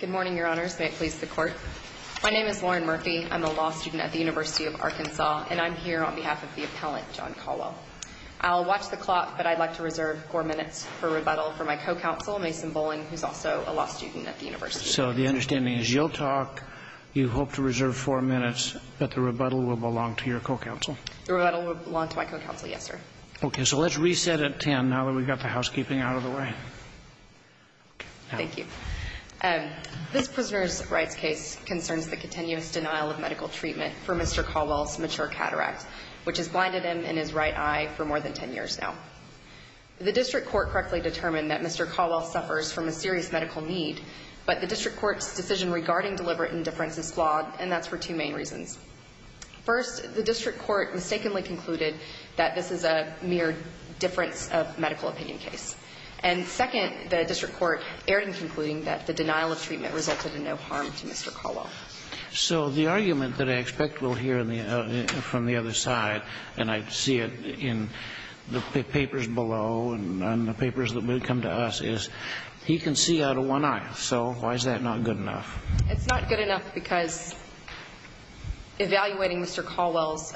Good morning, Your Honors. May it please the Court? My name is Lauren Murphy. I'm a law student at the University of Arkansas, and I'm here on behalf of the appellant, John Colwell. I'll watch the clock, but I'd like to reserve four minutes for rebuttal for my co-counsel, Mason Boling, who's also a law student at the University. So the understanding is you'll talk, you hope to reserve four minutes, but the rebuttal will belong to your co-counsel? The rebuttal will belong to my co-counsel, yes, sir. Okay, so let's reset at 10 now that we've got the housekeeping out of the way. Thank you. This prisoner's rights case concerns the continuous denial of medical treatment for Mr. Colwell's mature cataract, which has blinded him in his right eye for more than 10 years now. The district court correctly determined that Mr. Colwell suffers from a serious medical need, but the district court's decision regarding deliberate indifference is flawed, and that's for two main reasons. First, the district court mistakenly concluded that this is a mere difference of medical opinion case. And second, the district court erred in concluding that the denial of treatment resulted in no harm to Mr. Colwell. So the argument that I expect we'll hear from the other side, and I see it in the papers below and on the papers that will come to us, is he can see out of one eye. So why is that not good enough? It's not good enough because evaluating Mr. Colwell's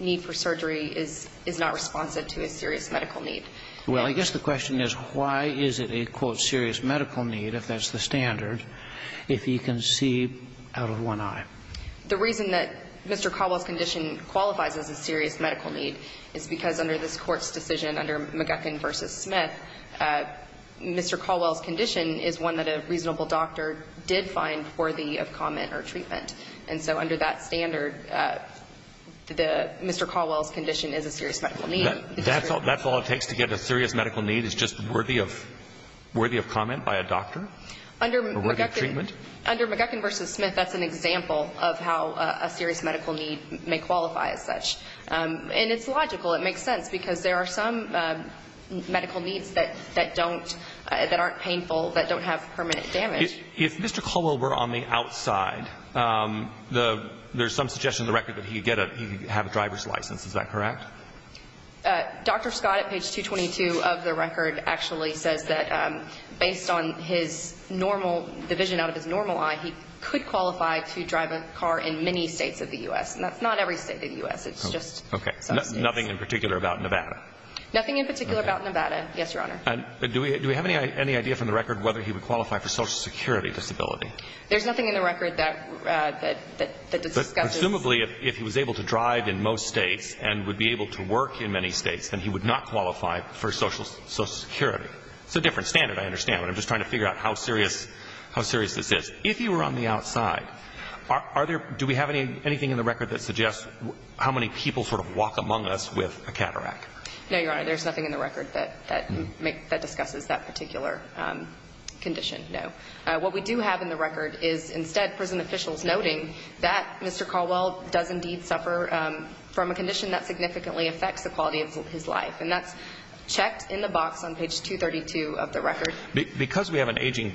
need for surgery is not responsive to his serious medical need. Well, I guess the question is why is it a, quote, serious medical need, if that's the standard, if he can see out of one eye? The reason that Mr. Colwell's condition qualifies as a serious medical need is because under this court's decision, under McGuckin v. Smith, Mr. Colwell's condition is one that a reasonable doctor did find worthy of comment or treatment. And so under that standard, Mr. Colwell's condition is a serious medical need. That's all it takes to get a serious medical need is just worthy of comment by a doctor or worthy of treatment? Under McGuckin v. Smith, that's an example of how a serious medical need may qualify as such. And it's logical. It makes sense because there are some medical needs that don't, that aren't painful, that don't have permanent damage. If Mr. Colwell were on the outside, there's some suggestion in the record that he could have a driver's license. Is that correct? Dr. Scott at page 222 of the record actually says that based on his normal, the vision out of his normal eye, he could qualify to drive a car in many states of the U.S. And that's not every state of the U.S. It's just some states. Okay. Nothing in particular about Nevada? Nothing in particular about Nevada. Yes, Your Honor. Do we have any idea from the record whether he would qualify for Social Security disability? There's nothing in the record that discusses – Presumably, if he was able to drive in most states and would be able to work in many states, then he would not qualify for Social Security. It's a different standard, I understand. I'm just trying to figure out how serious this is. If you were on the outside, do we have anything in the record that suggests how many people sort of walk among us with a cataract? No, Your Honor. There's nothing in the record that discusses that particular condition, no. What we do have in the record is instead prison officials noting that Mr. Colwell does indeed suffer from a condition that significantly affects the quality of his life, and that's checked in the box on page 232 of the record. Because we have an aging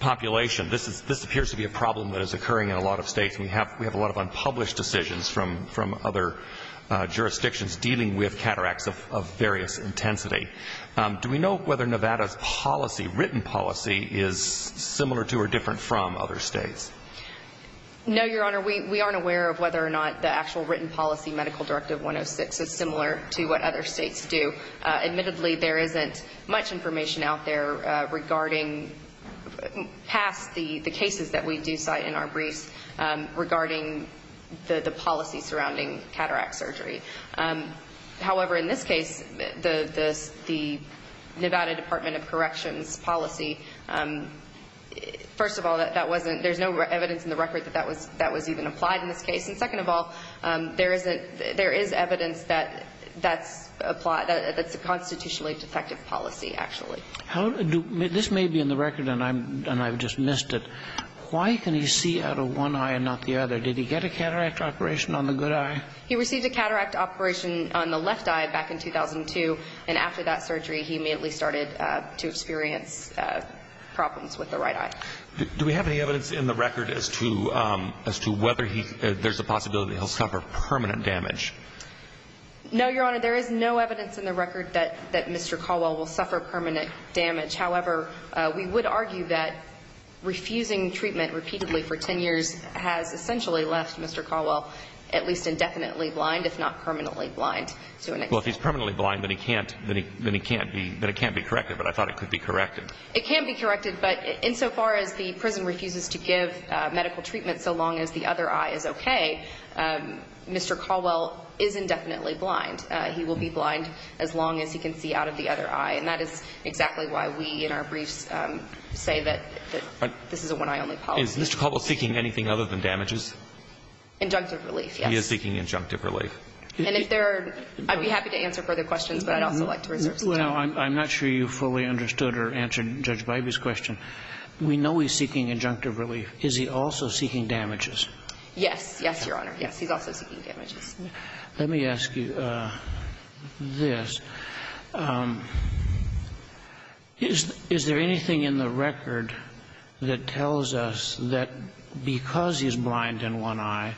population, this appears to be a problem that is occurring in a lot of states. We have a lot of unpublished decisions from other jurisdictions dealing with cataracts of various intensity. Do we know whether Nevada's policy, written policy, is similar to or different from other states? No, Your Honor. We aren't aware of whether or not the actual written policy, Medical Directive 106, is similar to what other states do. Admittedly, there isn't much information out there regarding, past the cases that we do cite in our briefs, regarding the policy surrounding cataract surgery. However, in this case, the Nevada Department of Corrections policy, first of all, there's no evidence in the record that that was even applied in this case. And second of all, there is evidence that that's a constitutionally defective policy, actually. This may be in the record, and I've just missed it. Why can he see out of one eye and not the other? Did he get a cataract operation on the good eye? He received a cataract operation on the left eye back in 2002, and after that surgery he immediately started to experience problems with the right eye. Do we have any evidence in the record as to whether there's a possibility he'll suffer permanent damage? No, Your Honor. There is no evidence in the record that Mr. Caldwell will suffer permanent damage. However, we would argue that refusing treatment repeatedly for 10 years has essentially left Mr. Caldwell at least indefinitely blind, if not permanently blind. Well, if he's permanently blind, then it can't be corrected, but I thought it could be corrected. It can be corrected, but insofar as the prison refuses to give medical treatment so long as the other eye is okay, Mr. Caldwell is indefinitely blind. He will be blind as long as he can see out of the other eye, and that is exactly why we in our briefs say that this is a one-eye only policy. Is Mr. Caldwell seeking anything other than damages? Injunctive relief, yes. He is seeking injunctive relief. And if there are, I'd be happy to answer further questions, but I'd also like to reserve some time. Well, I'm not sure you fully understood or answered Judge Bybee's question. We know he's seeking injunctive relief. Is he also seeking damages? Yes, yes, Your Honor. Yes, he's also seeking damages. Let me ask you this. Is there anything in the record that tells us that because he's blind in one eye,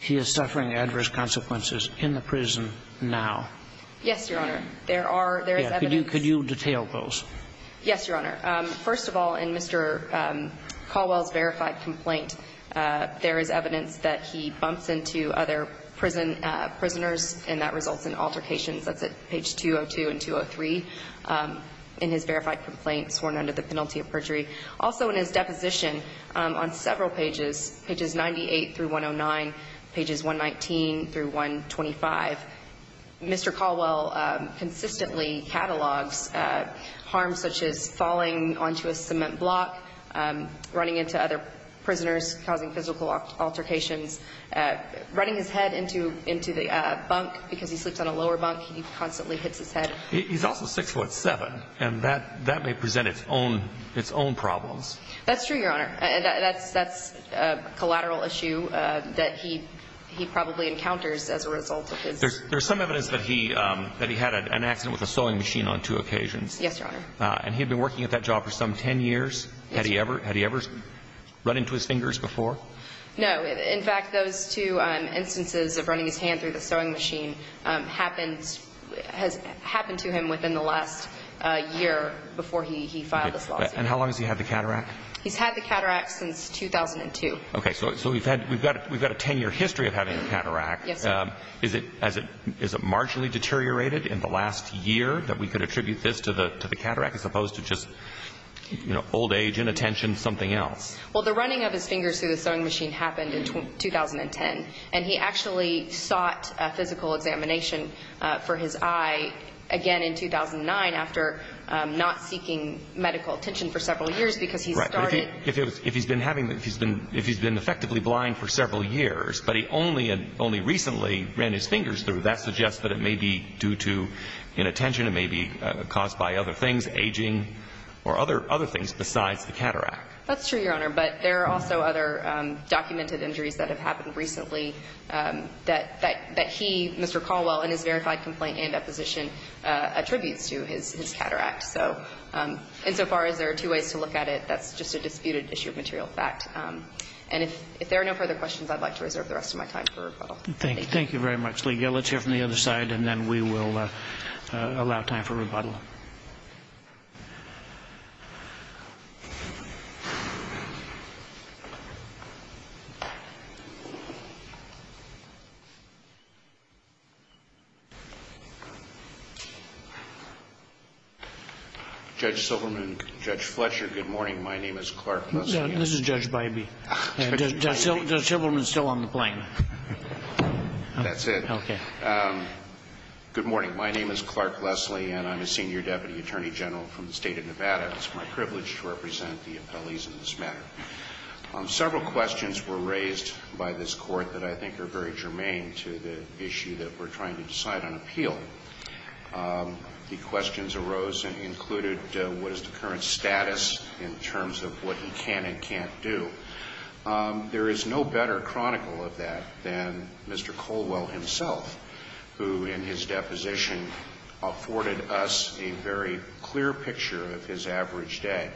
he is suffering adverse consequences in the prison now? Yes, Your Honor. There is evidence. Could you detail those? Yes, Your Honor. First of all, in Mr. Caldwell's verified complaint, there is evidence that he bumps into other prisoners, and that results in altercations. That's at page 202 and 203 in his verified complaint sworn under the penalty of perjury. Also in his deposition on several pages, pages 98 through 109, pages 119 through 125, Mr. Caldwell consistently catalogs harms such as falling onto a cement block, running into other prisoners, causing physical altercations, running his head into the bunk because he sleeps on a lower bunk. He constantly hits his head. He's also 6'7", and that may present its own problems. That's true, Your Honor. And that's a collateral issue that he probably encounters as a result of his There's some evidence that he had an accident with a sewing machine on two occasions. Yes, Your Honor. And he had been working at that job for some 10 years. Had he ever run into his fingers before? No. In fact, those two instances of running his hand through the sewing machine happened to him within the last year before he filed this lawsuit. And how long has he had the cataract? He's had the cataract since 2002. Okay, so we've got a 10-year history of having a cataract. Yes, sir. Is it marginally deteriorated in the last year that we could attribute this to the cataract as opposed to just old age, inattention, something else? Well, the running of his fingers through the sewing machine happened in 2010, and he actually sought a physical examination for his eye again in 2009 after not seeking medical attention for several years because he started Right, but if he's been effectively blind for several years but he only recently ran his fingers through, that suggests that it may be due to inattention, it may be caused by other things, aging, or other things besides the cataract. That's true, Your Honor, but there are also other documented injuries that have happened recently that he, Mr. Caldwell, in his verified complaint and deposition attributes to his cataract. So insofar as there are two ways to look at it, that's just a disputed issue of material fact. And if there are no further questions, I'd like to reserve the rest of my time for rebuttal. Thank you very much. Let's hear from the other side, and then we will allow time for rebuttal. Judge Silverman, Judge Fletcher, good morning. My name is Clark Leslie. This is Judge Bybee. Judge Silverman is still on the plane. That's it. Okay. Good morning. My name is Clark Leslie, and I'm a senior deputy attorney general from the State of Nevada. It's my privilege to represent the appellees in this matter. Several questions were raised by this Court that I think are very germane to the issue that we're trying to decide on appeal. The questions arose and included what is the current status in terms of what he can and can't do. There is no better chronicle of that than Mr. Colwell himself, who in his deposition afforded us a very clear picture of his average day.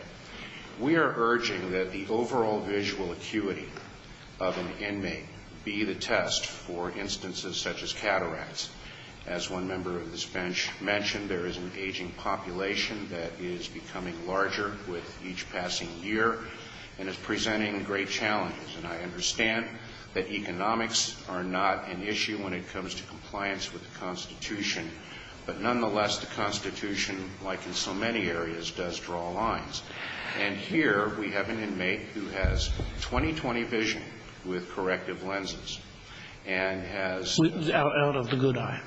We are urging that the overall visual acuity of an inmate be the test for the future. As a member of this bench mentioned, there is an aging population that is becoming larger with each passing year and is presenting great challenges. And I understand that economics are not an issue when it comes to compliance with the Constitution. But nonetheless, the Constitution, like in so many areas, does draw lines. And here we have an inmate who has 20-20 vision with corrective lenses and has Out of the good eye.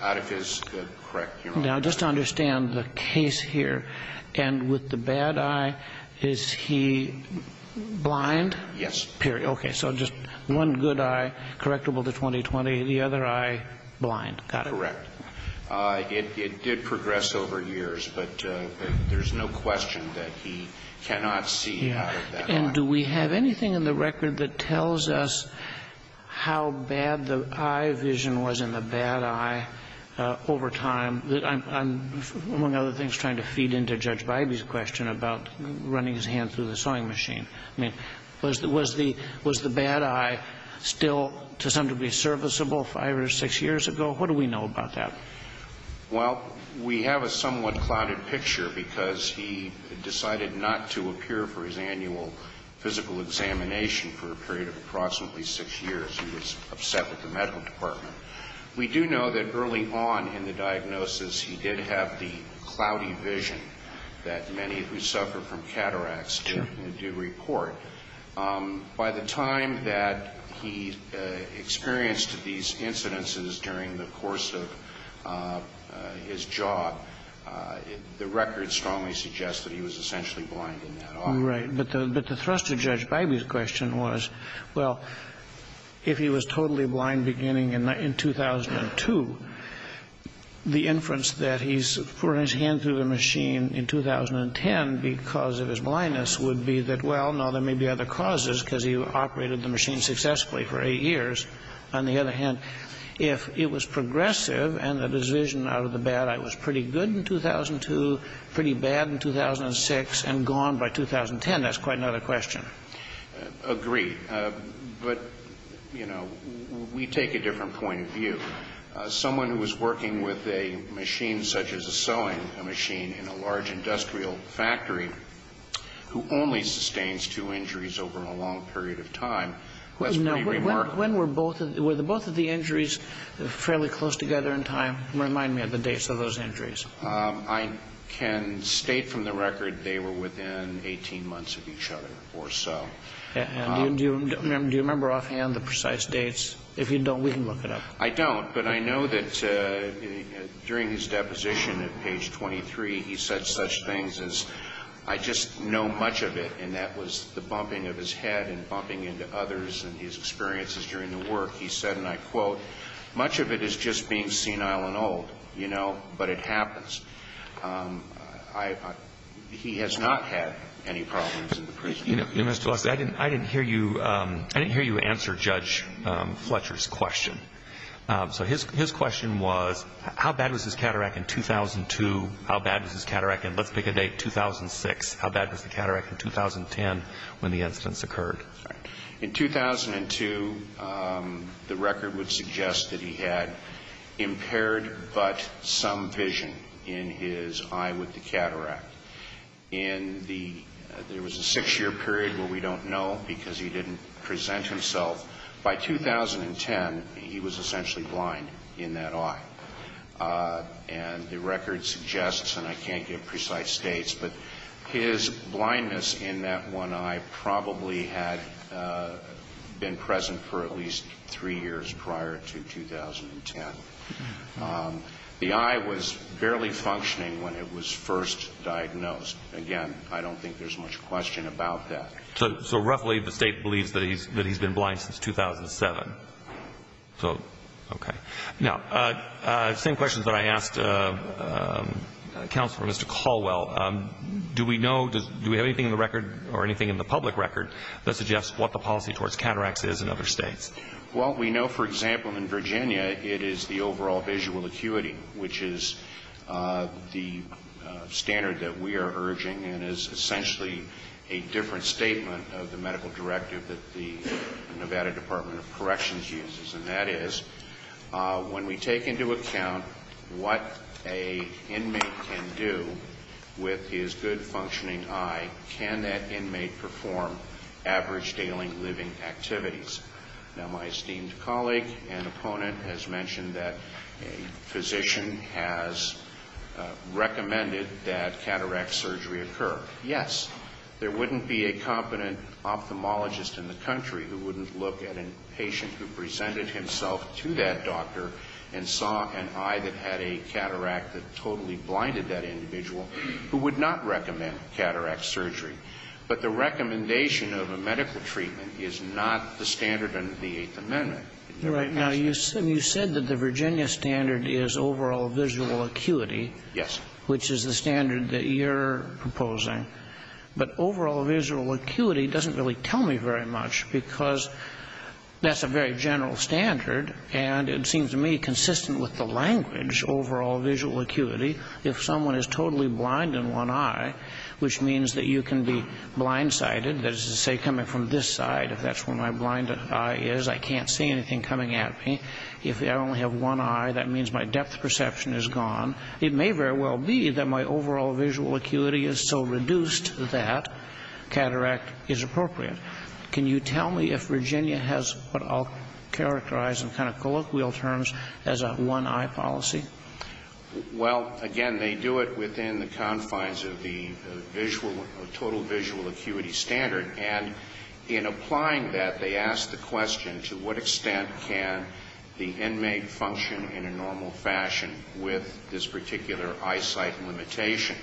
Out of his good, correct human eye. Now, just to understand the case here, and with the bad eye, is he blind? Yes. Period. Okay. So just one good eye correctable to 20-20, the other eye blind. Got it. Correct. It did progress over years. But there's no question that he cannot see out of that eye. And do we have anything in the record that tells us how bad the eye vision was in the bad eye over time? I'm, among other things, trying to feed into Judge Bybee's question about running his hand through the sewing machine. I mean, was the bad eye still to some degree serviceable five or six years ago? What do we know about that? Well, we have a somewhat clouded picture, because he decided not to appear for his annual physical examination for a period of approximately six years. He was upset with the medical department. We do know that early on in the diagnosis, he did have the cloudy vision that many who suffer from cataracts do report. By the time that he experienced these incidences during the course of his job, the record strongly suggests that he was essentially blind in that eye. Right. But the thrust of Judge Bybee's question was, well, if he was totally blind beginning in 2002, the inference that he's putting his hand through the machine in 2010 because of his blindness would be that, well, no, there may be other causes because he operated the machine successfully for eight years. On the other hand, if it was progressive and the vision out of the bad eye was pretty good in 2002, pretty bad in 2006, and gone by 2010, that's quite another question. Agree. But, you know, we take a different point of view. Someone who was working with a machine such as a sewing machine in a large industrial factory who only sustains two injuries over a long period of time, that's pretty remarkable. When were both of the injuries fairly close together in time? Remind me of the dates of those injuries. I can state from the record they were within 18 months of each other or so. And do you remember offhand the precise dates? If you don't, we can look it up. I don't, but I know that during his deposition at page 23, he said such things as, I just know much of it, and that was the bumping of his head and bumping into others and his experiences during the work. He said, and I quote, much of it is just being senile and old, you know, but it happens. He has not had any problems in the prison. I didn't hear you answer Judge Fletcher's question. So his question was, how bad was his cataract in 2002? How bad was his cataract in, let's pick a date, 2006? How bad was the cataract in 2010 when the incidents occurred? In 2002, the record would suggest that he had impaired but some vision in his eye with the cataract. In the, there was a six-year period where we don't know because he didn't present himself. By 2010, he was essentially blind in that eye. And the record suggests, and I can't give precise dates, but his blindness in that one eye probably had been present for at least three years prior to 2010. The eye was barely functioning when it was first diagnosed. Again, I don't think there's much question about that. So roughly the State believes that he's been blind since 2007. So, okay. Now, same questions that I asked Counselor, Mr. Caldwell. Do we know, do we have anything in the record or anything in the public record that suggests what the policy towards cataracts is in other States? Well, we know, for example, in Virginia, it is the overall visual acuity, which is the standard that we are urging and is essentially a different statement of the medical directive that the Nevada Department of Corrections uses. And that is, when we take into account what an inmate can do with his good functioning eye, can that inmate perform average daily living activities? Now, my esteemed colleague and opponent has mentioned that a physician has recommended that cataract surgery occur. Yes, there wouldn't be a competent ophthalmologist in the country who wouldn't look at a patient who presented himself to that doctor and saw an eye that had a cataract that totally blinded that individual who would not recommend cataract surgery. But the recommendation of a medical treatment is not the standard under the Eighth Amendment. Right. Now, you said that the Virginia standard is overall visual acuity. Yes. Which is the standard that you're proposing. But overall visual acuity doesn't really tell me very much because that's a very general standard. And it seems to me consistent with the language, overall visual acuity, if someone is totally blind in one eye, which means that you can be blindsided. That is to say, coming from this side, if that's where my blind eye is, I can't see anything coming at me. If I only have one eye, that means my depth perception is gone. It may very well be that my overall visual acuity is so reduced that cataract is appropriate. Can you tell me if Virginia has what I'll characterize in kind of colloquial terms as a one-eye policy? Well, again, they do it within the confines of the total visual acuity standard. And in applying that, they ask the question, to what extent can the inmate function in a normal fashion with this particular eyesight limitation?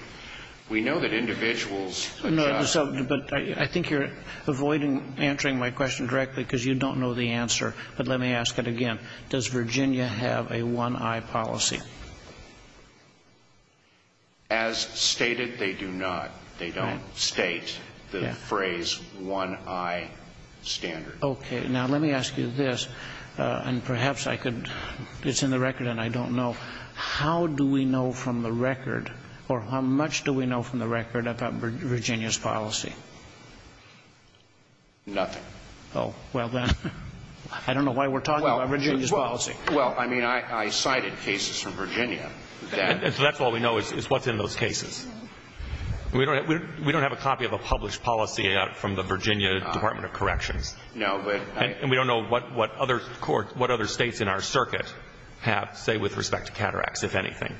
We know that individuals adjust. But I think you're avoiding answering my question directly because you don't know the answer. But let me ask it again. Does Virginia have a one-eye policy? As stated, they do not. They don't state the phrase one-eye standard. Okay. Now, let me ask you this, and perhaps I could, it's in the record and I don't know. How do we know from the record, or how much do we know from the record about Virginia's policy? Nothing. I don't know why we're talking about Virginia's policy. Well, I mean, I cited cases from Virginia. That's all we know is what's in those cases. We don't have a copy of a published policy from the Virginia Department of Corrections. No. And we don't know what other states in our circuit have, say, with respect to cataracts, if anything.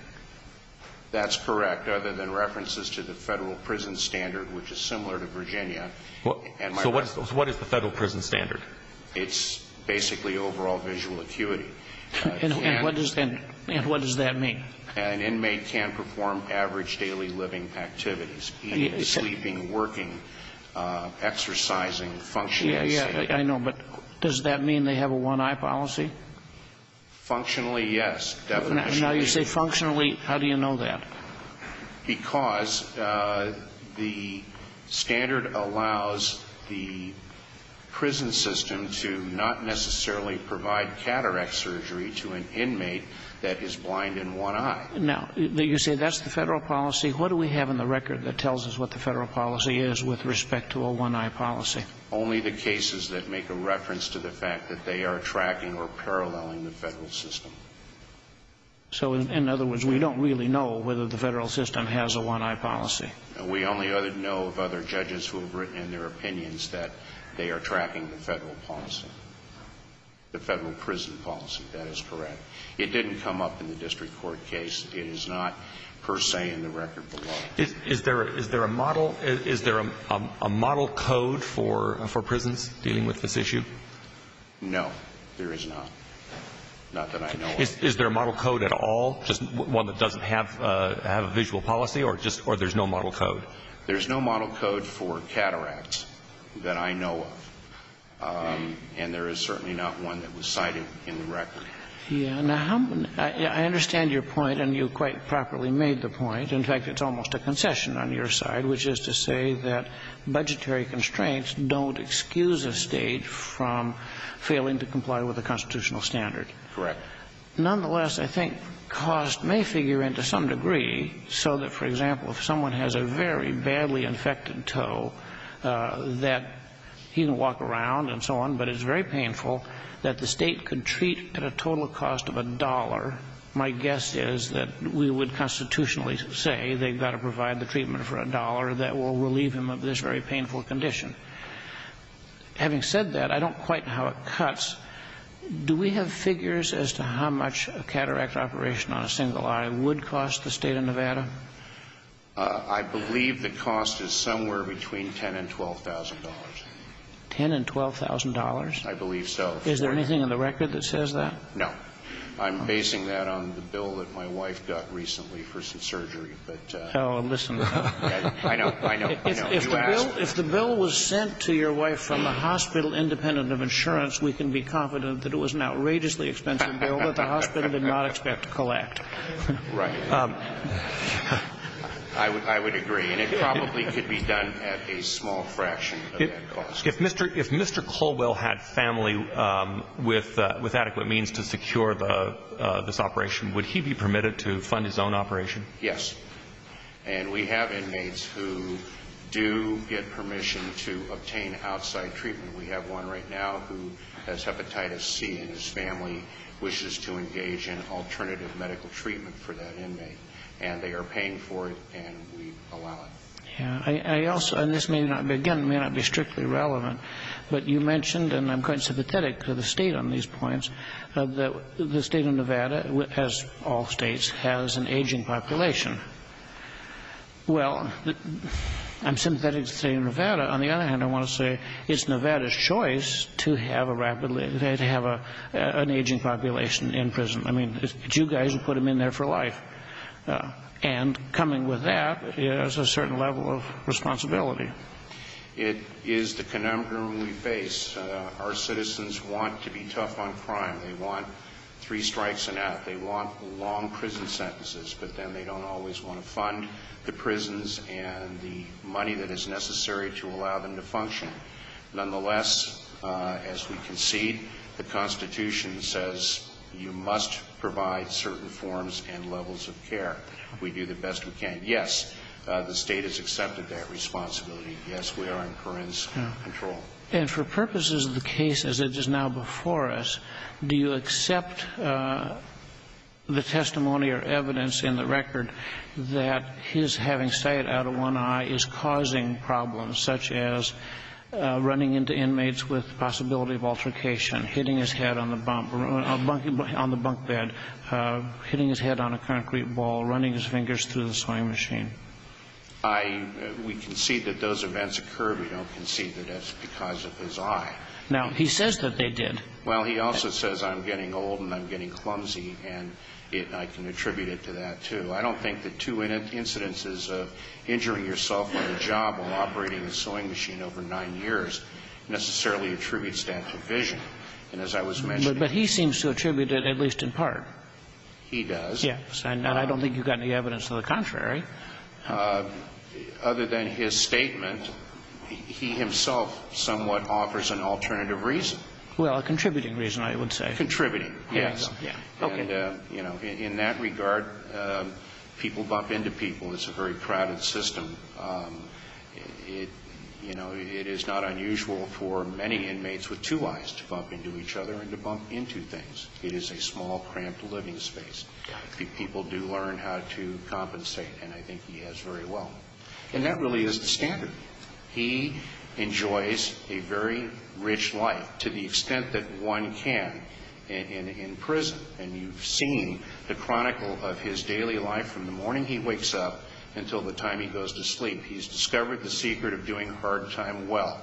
That's correct, other than references to the federal prison standard, which is similar to Virginia. So what is the federal prison standard? It's basically overall visual acuity. And what does that mean? An inmate can perform average daily living activities, eating, sleeping, working, exercising, functioning. Yeah, yeah, I know. But does that mean they have a one-eye policy? Functionally, yes. Now you say functionally, how do you know that? Because the standard allows the prison system to not necessarily provide cataract surgery to an inmate that is blind in one eye. Now, you say that's the federal policy. What do we have in the record that tells us what the federal policy is with respect to a one-eye policy? Only the cases that make a reference to the fact that they are tracking or paralleling the federal system. So in other words, we don't really know whether the federal system has a one-eye policy. We only know of other judges who have written in their opinions that they are tracking the federal policy, the federal prison policy. That is correct. It didn't come up in the district court case. It is not per se in the record below. Is there a model code for prisons dealing with this issue? No, there is not. Not that I know of. Is there a model code at all, just one that doesn't have a visual policy, or there's no model code? There's no model code for cataracts that I know of. And there is certainly not one that was cited in the record. Yes. Now, I understand your point, and you quite properly made the point. In fact, it's almost a concession on your side, which is to say that budgetary constraints don't excuse a State from failing to comply with the constitutional standard. Correct. Nonetheless, I think cost may figure in to some degree so that, for example, if someone has a very badly infected toe that he can walk around and so on, but it's very painful that the State could treat at a total cost of a dollar, my guess is that we would constitutionally say they've got to provide the treatment for a dollar that will relieve him of this very painful condition. Having said that, I don't quite know how it cuts. Do we have figures as to how much a cataract operation on a single eye would cost the State of Nevada? I believe the cost is somewhere between $10,000 and $12,000. $10,000 and $12,000? I believe so. Is there anything in the record that says that? No. I'm basing that on the bill that my wife got recently for some surgery. Oh, listen. I know. I know. If the bill was sent to your wife from the hospital independent of insurance, we can be confident that it was an outrageously expensive bill that the hospital did not expect to collect. Right. I would agree. And it probably could be done at a small fraction of that cost. If Mr. Colwell had family with adequate means to secure this operation, would he be permitted to fund his own operation? Yes. And we have inmates who do get permission to obtain outside treatment. We have one right now who has hepatitis C, and his family wishes to engage in alternative medical treatment for that inmate. And they are paying for it, and we allow it. Yes. And this may not be, again, may not be strictly relevant, but you mentioned, and I'm quite sympathetic to the State on these points, that the State of Nevada, as all states, has an aging population. Well, I'm sympathetic to the State of Nevada. On the other hand, I want to say it's Nevada's choice to have a rapidly, to have an aging population in prison. I mean, it's you guys who put them in there for life. And coming with that is a certain level of responsibility. It is the conundrum we face. Our citizens want to be tough on crime. They want three strikes and out. They want long prison sentences. But then they don't always want to fund the prisons and the money that is necessary to allow them to function. Nonetheless, as we concede, the Constitution says you must provide certain forms and levels of care. We do the best we can. Yes, the State has accepted that responsibility. Yes, we are in Corrine's control. And for purposes of the case as it is now before us, do you accept the testimony or evidence in the record that his having sight out of one eye is causing problems such as running into inmates with possibility of altercation, hitting his head on the bunk bed, hitting his head on a concrete ball, running his fingers through the sewing machine? We concede that those events occurred. We don't concede that it's because of his eye. Now, he says that they did. Well, he also says, I'm getting old and I'm getting clumsy, and I can attribute it to that, too. I don't think that two incidences of injuring yourself on the job while operating a sewing machine over nine years necessarily attributes that to vision. But he seems to attribute it at least in part. He does. Yes, and I don't think you've got any evidence to the contrary. Other than his statement, he himself somewhat offers an alternative reason. Well, a contributing reason, I would say. Contributing, yes. Okay. And, you know, in that regard, people bump into people. It's a very crowded system. You know, it is not unusual for many inmates with two eyes to bump into each other and to bump into things. It is a small, cramped living space. People do learn how to compensate, and I think he has very well. And that really is the standard. He enjoys a very rich life to the extent that one can in prison. And you've seen the chronicle of his daily life from the morning he wakes up until the time he goes to sleep. He's discovered the secret of doing hard time well.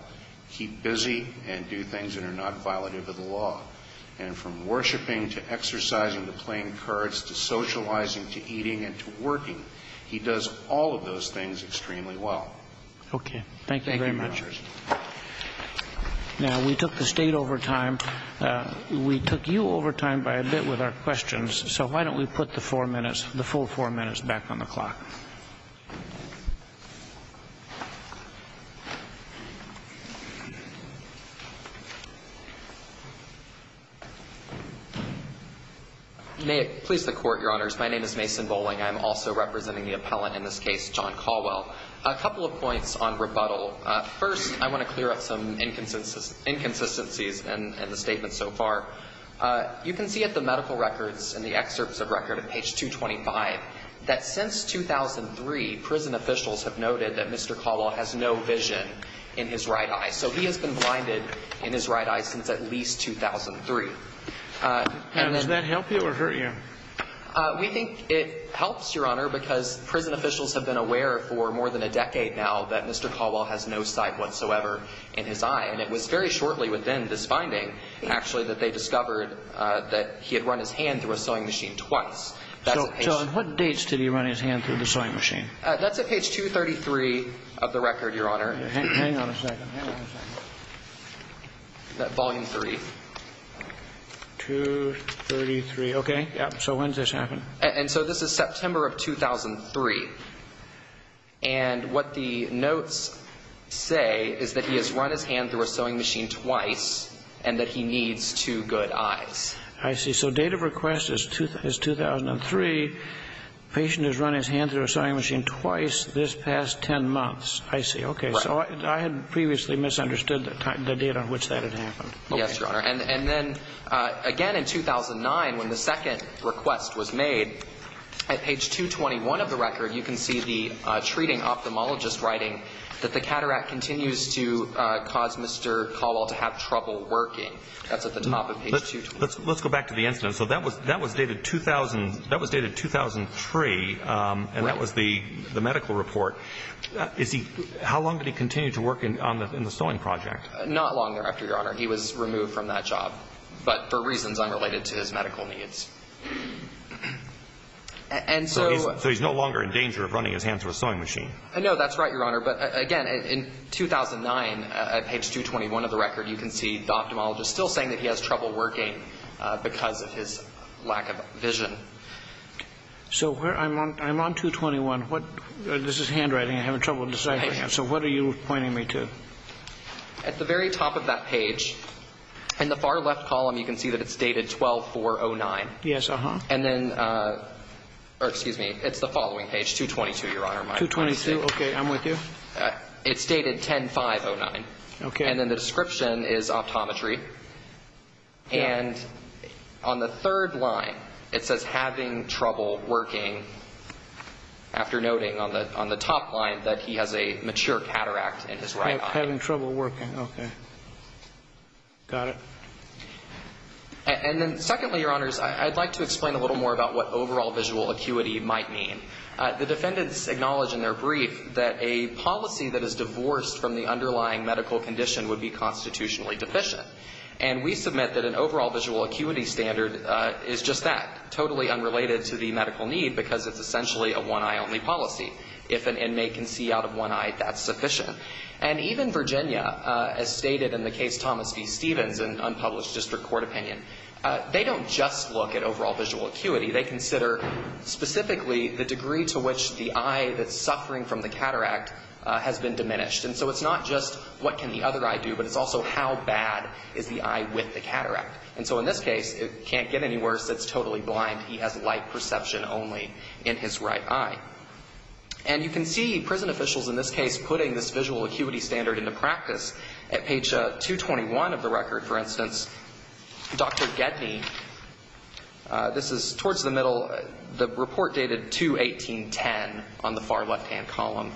Keep busy and do things that are not violative of the law. And from worshipping to exercising to playing cards to socializing to eating and to working, he does all of those things extremely well. Okay. Thank you very much. Thank you, Your Honor. Now, we took the State over time. We took you over time by a bit with our questions. So why don't we put the four minutes, the full four minutes back on the clock? May it please the Court, Your Honors. My name is Mason Bolling. I'm also representing the appellant in this case, John Caldwell. A couple of points on rebuttal. First, I want to clear up some inconsistencies in the statements so far. You can see at the medical records and the excerpts of record at page 225 that since 2003, prison officials have noted that Mr. Caldwell has no vision in his right eye. So he has been blinded in his right eye since at least 2003. Does that help you or hurt you? We think it helps, Your Honor, because prison officials have been aware for more than a decade now that Mr. Caldwell has no sight whatsoever in his eye. And it was very shortly within this finding, actually, that they discovered that he had run his hand through a sewing machine twice. So on what dates did he run his hand through the sewing machine? That's at page 233 of the record, Your Honor. Hang on a second. Hang on a second. Volume 3. 233. Okay. So when did this happen? And so this is September of 2003. And what the notes say is that he has run his hand through a sewing machine twice and that he needs two good eyes. I see. So date of request is 2003. Patient has run his hand through a sewing machine twice this past ten months. I see. Right. Okay. Yes, Your Honor. And then, again, in 2009, when the second request was made, at page 221 of the record, you can see the treating ophthalmologist writing that the cataract continues to cause Mr. Caldwell to have trouble working. That's at the top of page 221. Let's go back to the incident. So that was dated 2003, and that was the medical report. How long did he continue to work in the sewing project? Not long thereafter, Your Honor. He was removed from that job, but for reasons unrelated to his medical needs. And so he's no longer in danger of running his hand through a sewing machine. No, that's right, Your Honor. But, again, in 2009, at page 221 of the record, you can see the ophthalmologist still saying that he has trouble working because of his lack of vision. So I'm on 221. This is handwriting. I'm having trouble deciphering it. So what are you pointing me to? At the very top of that page, in the far left column, you can see that it's dated 12-4-09. Yes, uh-huh. And then, or excuse me, it's the following page, 222, Your Honor. 222, okay, I'm with you. It's dated 10-5-09. Okay. And then the description is optometry. And on the third line, it says, after noting on the top line that he has a mature cataract in his right eye. Having trouble working, okay. Got it. And then, secondly, Your Honors, I'd like to explain a little more about what overall visual acuity might mean. The defendants acknowledge in their brief that a policy that is divorced from the underlying medical condition would be constitutionally deficient. And we submit that an overall visual acuity standard is just that, totally unrelated to the medical need because it's essentially a one-eye only policy. If an inmate can see out of one eye, that's sufficient. And even Virginia, as stated in the case Thomas v. Stevens in unpublished district court opinion, they don't just look at overall visual acuity. They consider specifically the degree to which the eye that's suffering from the cataract has been diminished. And so it's not just what can the other eye do, but it's also how bad is the eye with the cataract. And so in this case, it can't get any worse. It's totally blind. He has light perception only in his right eye. And you can see prison officials in this case putting this visual acuity standard into practice. At page 221 of the record, for instance, Dr. Gedney, this is towards the middle, the report dated 2-18-10 on the far left-hand column,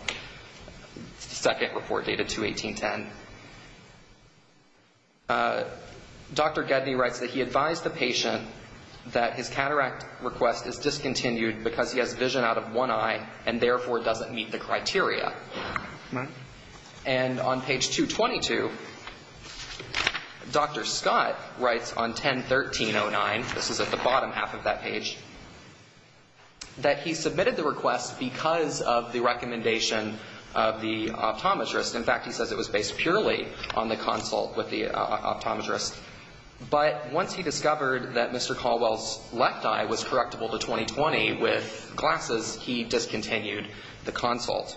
second report dated 2-18-10. Dr. Gedney writes that he advised the patient that his cataract request is discontinued because he has vision out of one eye and therefore doesn't meet the criteria. And on page 222, Dr. Scott writes on 10-13-09, this is at the bottom half of that page, that he submitted the request because of the recommendation of the optometrist. In fact, he says it was based purely on the consult with the optometrist. But once he discovered that Mr. Caldwell's left eye was correctable to 20-20 with glasses, he discontinued the consult.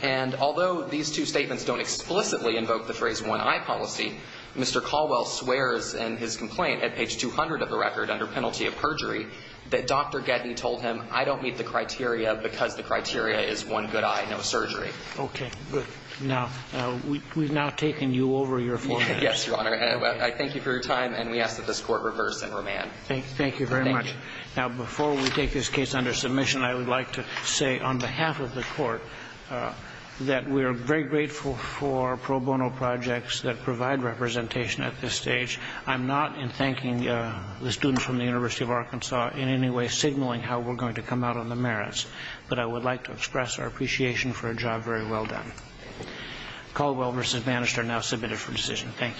And although these two statements don't explicitly invoke the phrase one-eye policy, Mr. Caldwell swears in his complaint at page 200 of the record under penalty of perjury that Dr. Gedney told him, I don't meet the criteria because the criteria is one good eye, no surgery. Okay, good. Now, we've now taken you over your floor. Yes, Your Honor. I thank you for your time. And we ask that this Court reverse and remand. Thank you very much. Now, before we take this case under submission, I would like to say on behalf of the Court that we are very grateful for pro bono projects that provide representation at this stage. I'm not in thanking the students from the University of Arkansas in any way signaling how we're going to come out on the merits. But I would like to express our appreciation for a job very well done. Caldwell v. Manister now submitted for decision. Thank you.